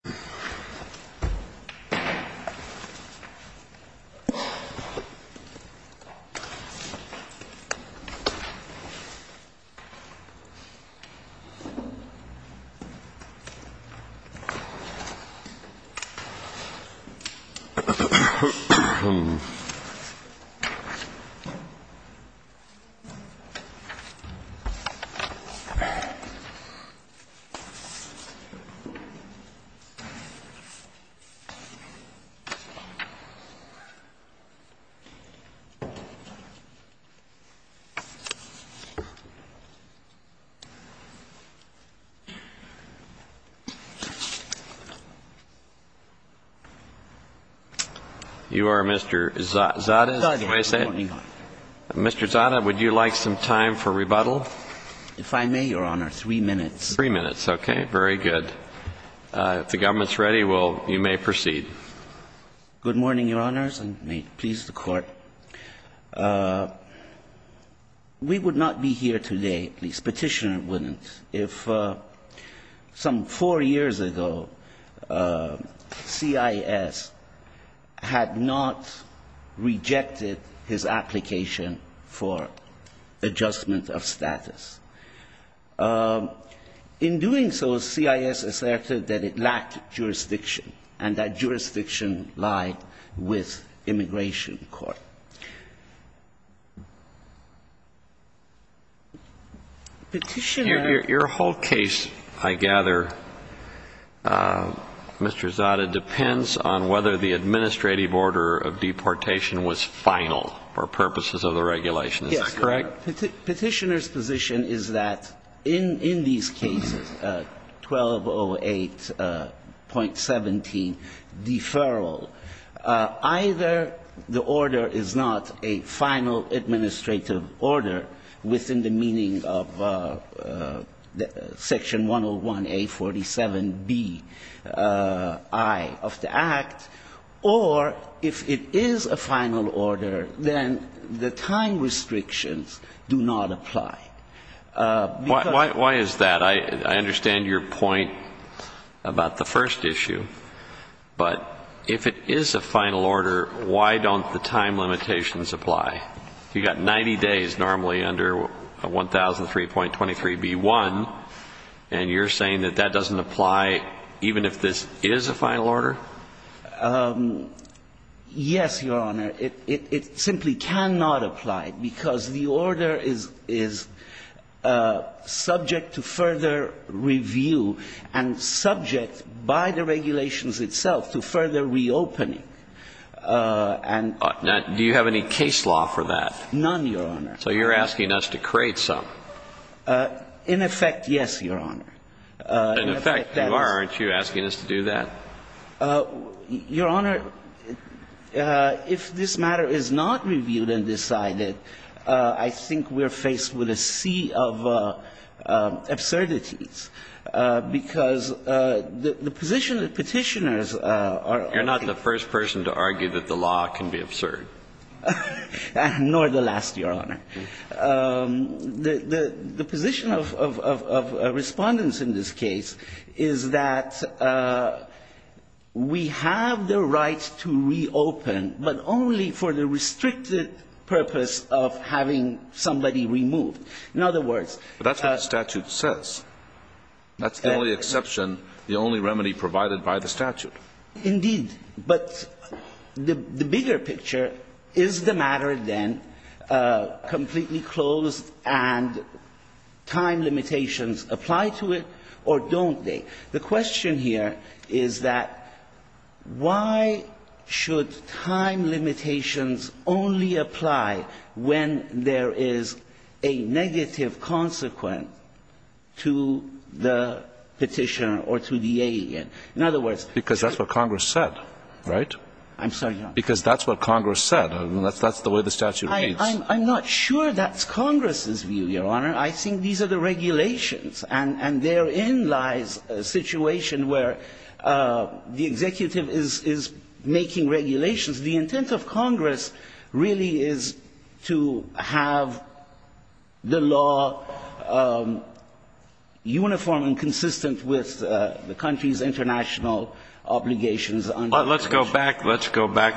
Srimad-Bhagavatam 2.1.1 Mr. Zada, would you like some time for rebuttal? If I may, Your Honor, three minutes. Three minutes, okay, very good. If the government is ready, you may proceed. Good morning, Your Honors, and may it please the Court. We would not be here today, the Petitioner wouldn't, if some four years ago CIS had not rejected his application for adjustment of status. In doing so, CIS asserted that it lacked jurisdiction, and that jurisdiction lied with Immigration Court. Petitioner ---- Your whole case, I gather, Mr. Zada, depends on whether the administrative order of deportation was final for purposes of the regulation. Is that correct? Your Petitioner's position is that in these cases, 1208.17, deferral, either the order is not a final administrative order within the meaning of Section 101A47Bi of the Act, or if it is a final order, then the time restrictions do not apply. Why is that? I understand your point about the first issue, but if it is a final order, why don't the time limitations apply? You've got 90 days normally under 1003.23B1, and you're saying that that doesn't apply even if this is a final order? Yes, Your Honor. It simply cannot apply because the order is subject to further review and subject by the regulations itself to further reopening. Do you have any case law for that? None, Your Honor. So you're asking us to create some. In effect, yes, Your Honor. In effect, you are, aren't you, asking us to do that? Your Honor, if this matter is not reviewed and decided, I think we're faced with a sea of absurdities, because the position that Petitioners are looking for is that it's not a final order. I'm not the first person to argue that the law can be absurd. Nor the last, Your Honor. The position of Respondents in this case is that we have the right to reopen, but only for the restricted purpose of having somebody removed. In other words – But that's what the statute says. That's the only exception, the only remedy provided by the statute. Indeed. But the bigger picture is the matter, then, completely closed and time limitations apply to it or don't they? The question here is that why should time limitations only apply when there is a negative consequence to the Petitioner or to the alien? In other words – Because that's what Congress said, right? I'm sorry, Your Honor. Because that's what Congress said. That's the way the statute reads. I'm not sure that's Congress's view, Your Honor. I think these are the regulations. And therein lies a situation where the executive is making regulations. The intent of Congress really is to have the law uniform and consistent with the country's international obligations. Let's go back,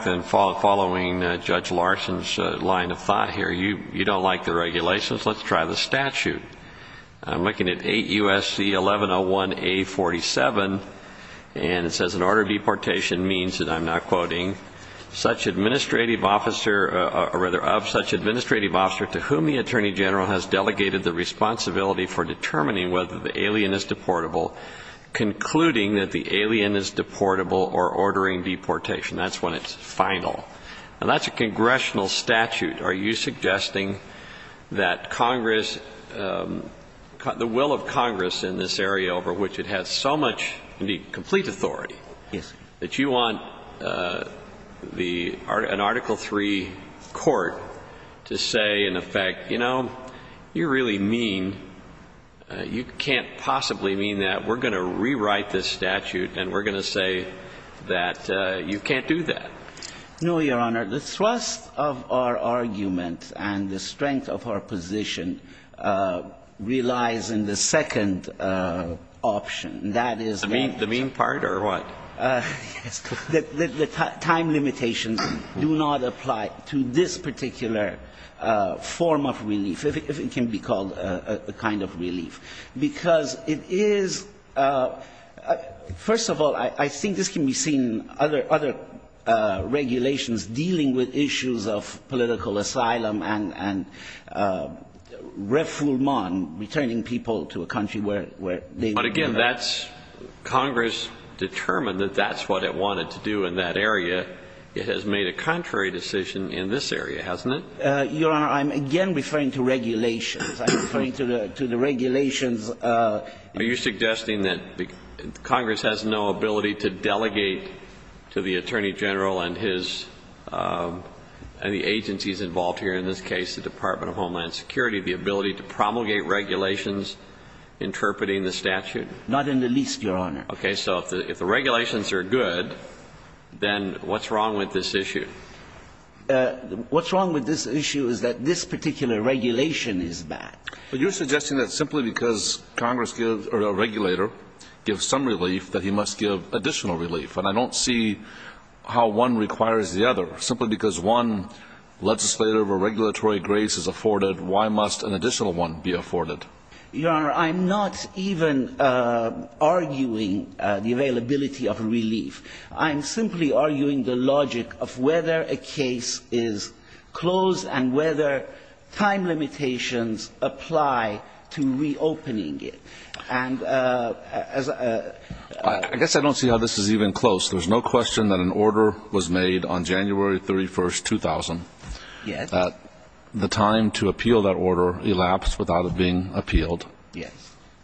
then, following Judge Larson's line of thought here. You don't like the regulations. Let's try the statute. I'm looking at 8 U.S.C. 1101A47, and it says, An order of deportation means, and I'm not quoting, of such administrative officer to whom the Attorney General has delegated the responsibility for determining whether the alien is deportable, concluding that the alien is deportable or ordering deportation. That's when it's final. And that's a congressional statute. Are you suggesting that Congress, the will of Congress in this area over which it has so much, indeed, complete authority, that you want an Article III court to say, in effect, you know, you really mean, you can't possibly mean that we're going to rewrite this statute and we're going to say that you can't do that? No, Your Honor. The thrust of our argument and the strength of our position relies in the second option. That is the main part or what? The time limitations do not apply to this particular form of relief, if it can be called a kind of relief. Because it is, first of all, I think this can be seen in other regulations dealing with issues of political asylum and refoulement, returning people to a country where they were. But, again, that's Congress determined that that's what it wanted to do in that area. It has made a contrary decision in this area, hasn't it? Your Honor, I'm again referring to regulations. I'm referring to the regulations. Are you suggesting that Congress has no ability to delegate to the Attorney General and his and the agencies involved here, in this case the Department of Homeland Security, the ability to promulgate regulations interpreting the statute? Not in the least, Your Honor. Okay. So if the regulations are good, then what's wrong with this issue? What's wrong with this issue is that this particular regulation is bad. But you're suggesting that simply because a regulator gives some relief that he must give additional relief. And I don't see how one requires the other. Simply because one legislative or regulatory grace is afforded, why must an additional one be afforded? Your Honor, I'm not even arguing the availability of relief. I'm simply arguing the logic of whether a case is closed and whether time limitations apply to reopening it. I guess I don't see how this is even close. There's no question that an order was made on January 31, 2000. Yes. The time to appeal that order elapsed without it being appealed. Yes.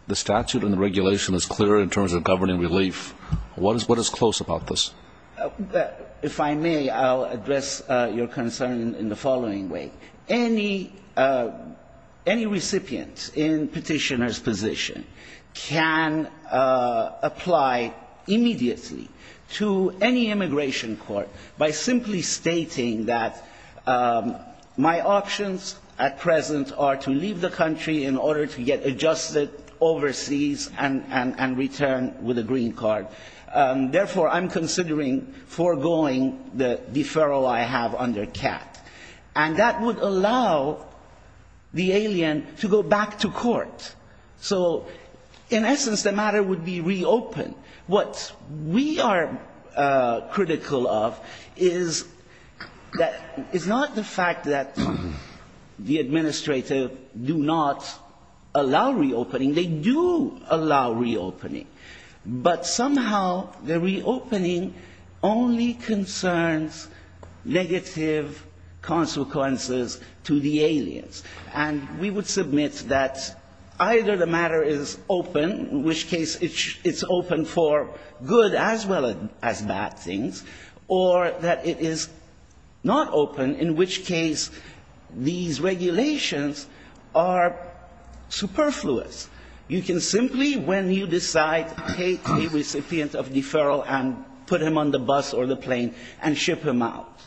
The statute and the regulation is clear in terms of governing relief. What is close about this? If I may, I'll address your concern in the following way. Any recipient in petitioner's position can apply immediately to any immigration court by simply stating that my options at present are to leave the country in order to get adjusted overseas and return with a green card. Therefore, I'm considering foregoing the deferral I have under CAT. And that would allow the alien to go back to court. So, in essence, the matter would be reopened. What we are critical of is that it's not the fact that the administrative do not allow reopening. They do allow reopening, but somehow the reopening only concerns negative consequences to the aliens. And we would submit that either the matter is open, in which case it's open for good as well as bad things, or that it is not open, in which case these regulations are superfluous. You can simply, when you decide, take a recipient of deferral and put him on the bus or the plane and ship him out.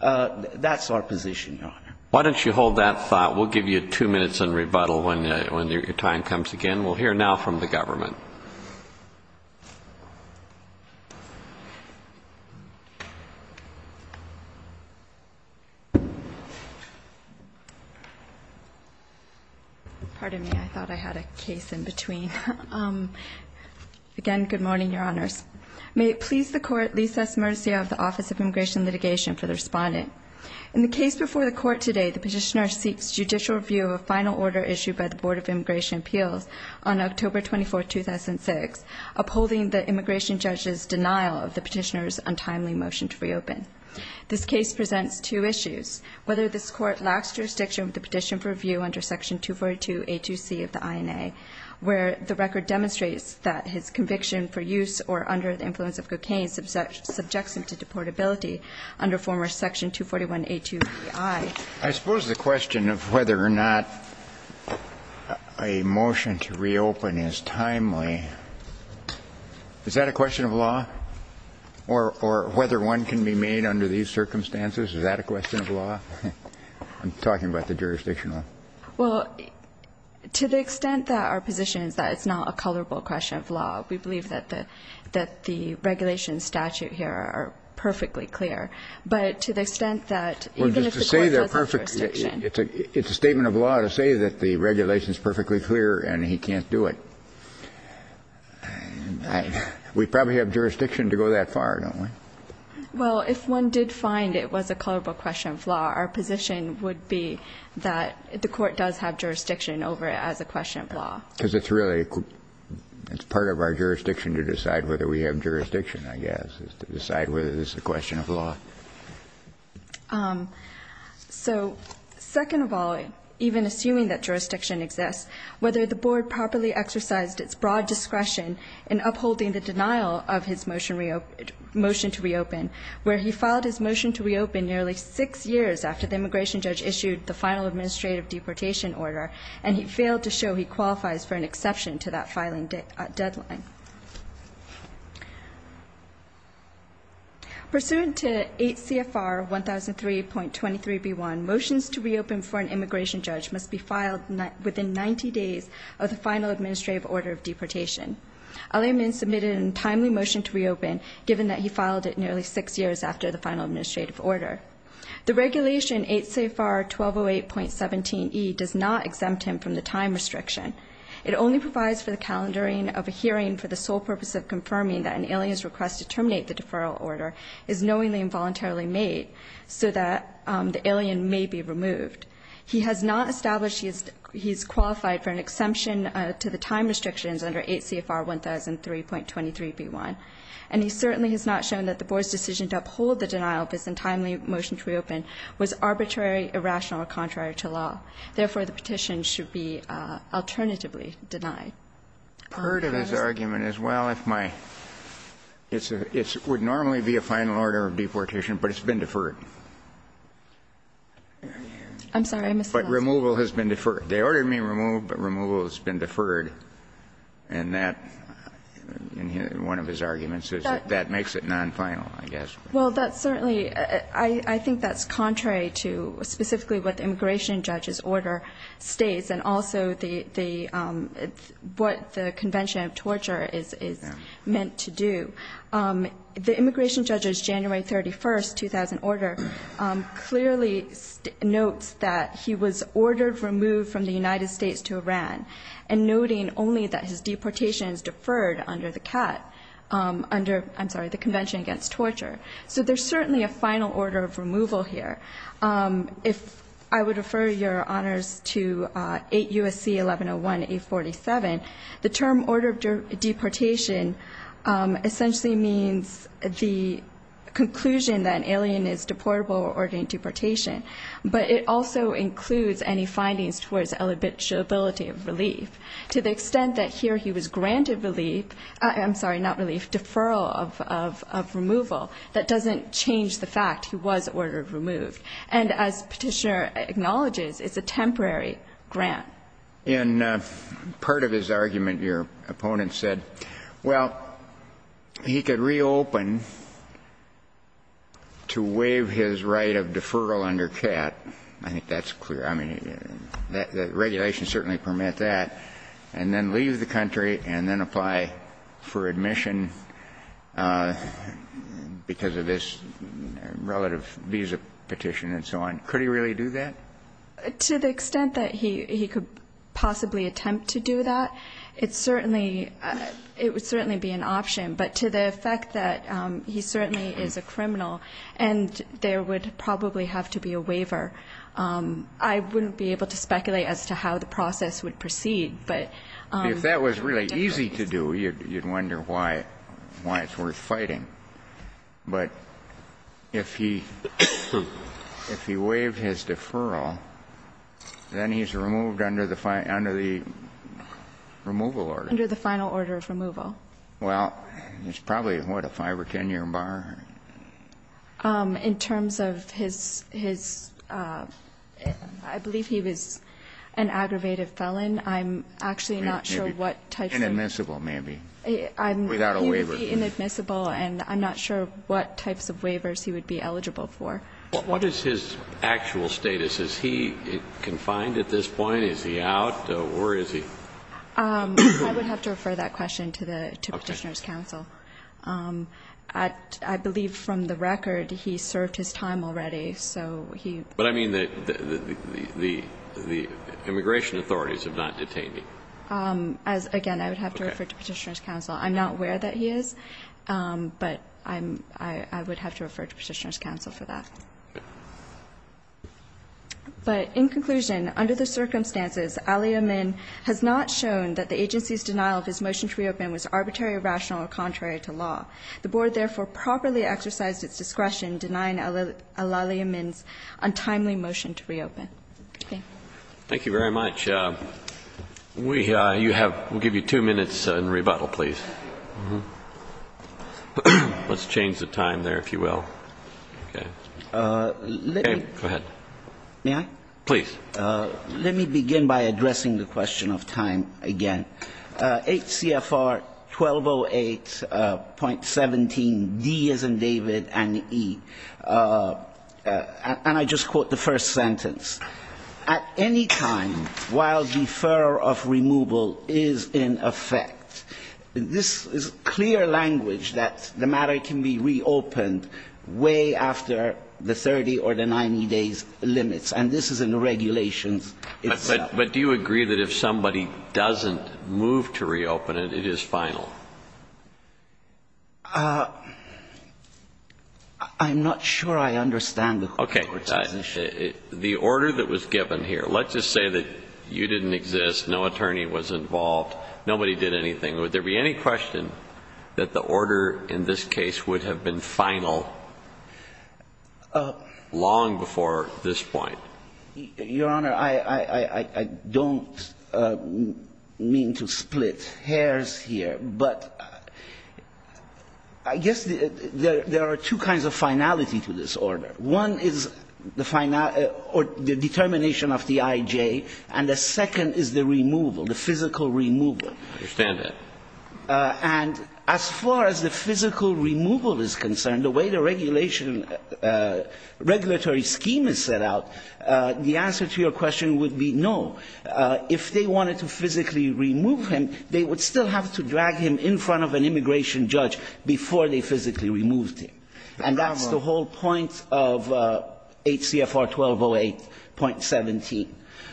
That's our position, Your Honor. Why don't you hold that thought? We'll give you two minutes and rebuttal when your time comes again. We'll hear now from the government. Pardon me, I thought I had a case in between. Again, good morning, Your Honors. May it please the Court, lease us mercy of the Office of Immigration Litigation for the respondent. In the case before the Court today, the petitioner seeks judicial review of a final order issued by the Board of Immigration Appeals on October 24, 2006, upholding the immigration judge's denial of the petitioner's untimely motion to reopen. This case presents two issues. Whether this Court lacks jurisdiction with the petition for review under Section 242A2C of the INA, where the record demonstrates that his conviction for use or under the influence of cocaine subjects him to deportability under former Section 241A2EI. I suppose the question of whether or not a motion to reopen is timely, is that a question of law? Or whether one can be made under these circumstances, is that a question of law? I'm talking about the jurisdictional. Well, to the extent that our position is that it's not a colorable question of law, we believe that the regulations statute here are perfectly clear. But to the extent that even if the Court has jurisdiction. It's a statement of law to say that the regulation is perfectly clear and he can't do it. We probably have jurisdiction to go that far, don't we? Well, if one did find it was a colorable question of law, our position would be that the Court does have jurisdiction over it as a question of law. Because it's really part of our jurisdiction to decide whether we have jurisdiction, I guess, is to decide whether this is a question of law. So second of all, even assuming that jurisdiction exists, whether the Board properly exercised its broad discretion in upholding the denial of his motion to reopen, where he filed his motion to reopen nearly 6 years after the immigration judge issued the final administrative deportation order, and he failed to show he qualifies for an exception to that filing deadline. Pursuant to 8 CFR 1003.23B1, motions to reopen for an immigration judge must be filed within 90 days of the final administrative order of deportation. Ali Amin submitted a timely motion to reopen given that he filed it nearly 6 years after the final administrative order. The regulation 8 CFR 1208.17E does not exempt him from the time restriction. It only provides for the calendaring of a hearing for the sole purpose of confirming that an alien's request to terminate the deferral order is knowingly and voluntarily made so that the alien may be removed. He has not established he is qualified for an exemption to the time restrictions under 8 CFR 1003.23B1, and he certainly has not shown that the Board's decision to uphold the denial of his untimely motion to reopen was arbitrary, irrational, or contrary to law. Therefore, the petition should be alternatively denied. Kennedy? I have a question. I've heard of his argument as well. It would normally be a final order of deportation, but it's been deferred. I'm sorry. I misspoke. But removal has been deferred. They ordered me removed but removal has been deferred. And that, in one of his arguments, is that makes it nonfinal, I guess. Well, I think that's contrary to specifically what the immigration judge's order states and also what the convention of torture is meant to do. The immigration judge's January 31, 2000 order clearly notes that he was ordered removed from the United States to Iran and noting only that his deportation is deferred under the convention against torture. So there's certainly a final order of removal here. If I would refer your honors to 8 U.S.C. 1101-847, the term order of deportation essentially means the conclusion that an alien is deportable or ordered into deportation. But it also includes any findings towards eligibility of relief. To the extent that here he was granted relief, I'm sorry, not relief, deferral of removal, that doesn't change the fact he was ordered removed. And as Petitioner acknowledges, it's a temporary grant. In part of his argument, your opponent said, well, he could reopen to waive his right of deferral under CAT. I think that's clear. I mean, the regulations certainly permit that. And then leave the country and then apply for admission because of this relative visa petition and so on. Could he really do that? To the extent that he could possibly attempt to do that, it certainly be an option. But to the effect that he certainly is a criminal and there would probably have to be a waiver, I wouldn't be able to speculate as to how the process would proceed. But if that was really easy to do, you'd wonder why it's worth fighting. But if he waived his deferral, then he's removed under the removal order. Under the final order of removal. Well, it's probably, what, a 5 or 10-year bar. In terms of his, I believe he was an aggravated felon. I'm actually not sure what types of. Inadmissible, maybe. Without a waiver. He would be inadmissible. And I'm not sure what types of waivers he would be eligible for. What is his actual status? Is he confined at this point? Is he out? Or is he? I would have to refer that question to Petitioner's counsel. I believe from the record he served his time already. So he. But I mean the immigration authorities have not detained him. Again, I would have to refer to Petitioner's counsel. I'm not aware that he is. But I would have to refer to Petitioner's counsel for that. Okay. But in conclusion, under the circumstances, Ali Amin has not shown that the agency's denial of his motion to reopen was arbitrary, rational, or contrary to law. The board, therefore, properly exercised its discretion denying Ali Amin's untimely motion to reopen. Thank you. Thank you very much. We have, we'll give you two minutes in rebuttal, please. Let's change the time there, if you will. Okay. Let me. Go ahead. May I? Please. Let me begin by addressing the question of time again. HCFR 1208.17D, as in David, and E. And I just quote the first sentence. At any time while deferral of removal is in effect, this is clear language that the matter can be reopened way after the 30 or the 90 days limits. And this is in the regulations itself. But do you agree that if somebody doesn't move to reopen it, it is final? I'm not sure I understand the court's position. Okay. The order that was given here, let's just say that you didn't exist, no attorney was involved, nobody did anything. Would there be any question that the order in this case would have been final long before this point? Your Honor, I don't mean to split hairs here, but I guess there are two kinds of finality to this order. One is the determination of the I.J., and the second is the removal, the physical removal. I understand that. And as far as the physical removal is concerned, the way the regulation, regulatory scheme is set out, the answer to your question would be no. If they wanted to physically remove him, they would still have to drag him in front of an immigration judge before they physically removed him. And that's the whole point of HCFR 1208.17.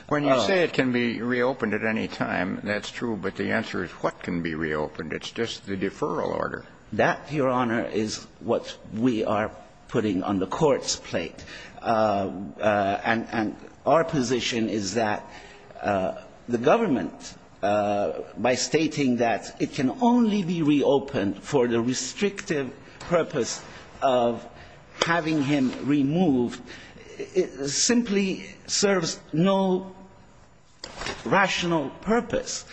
When you say it can be reopened at any time, that's true, but the answer is what can be reopened? It's just the deferral order. That, Your Honor, is what we are putting on the court's plate. And our position is that the government, by stating that it can only be reopened for the restrictive purpose of having him removed, simply serves no rational purpose.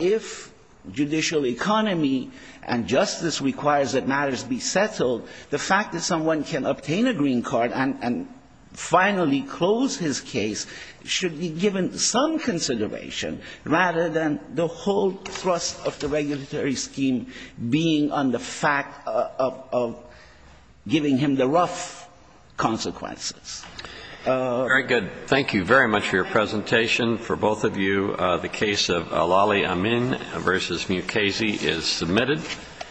If judicial economy and justice requires that matters be settled, the fact that someone can obtain a green card and finally close his case should be given some consideration rather than the whole thrust of the regulatory scheme being on the fact of giving him the rough consequences. Very good. Thank you very much for your presentation. For both of you, the case of Alali Amin v. Mukasey is submitted.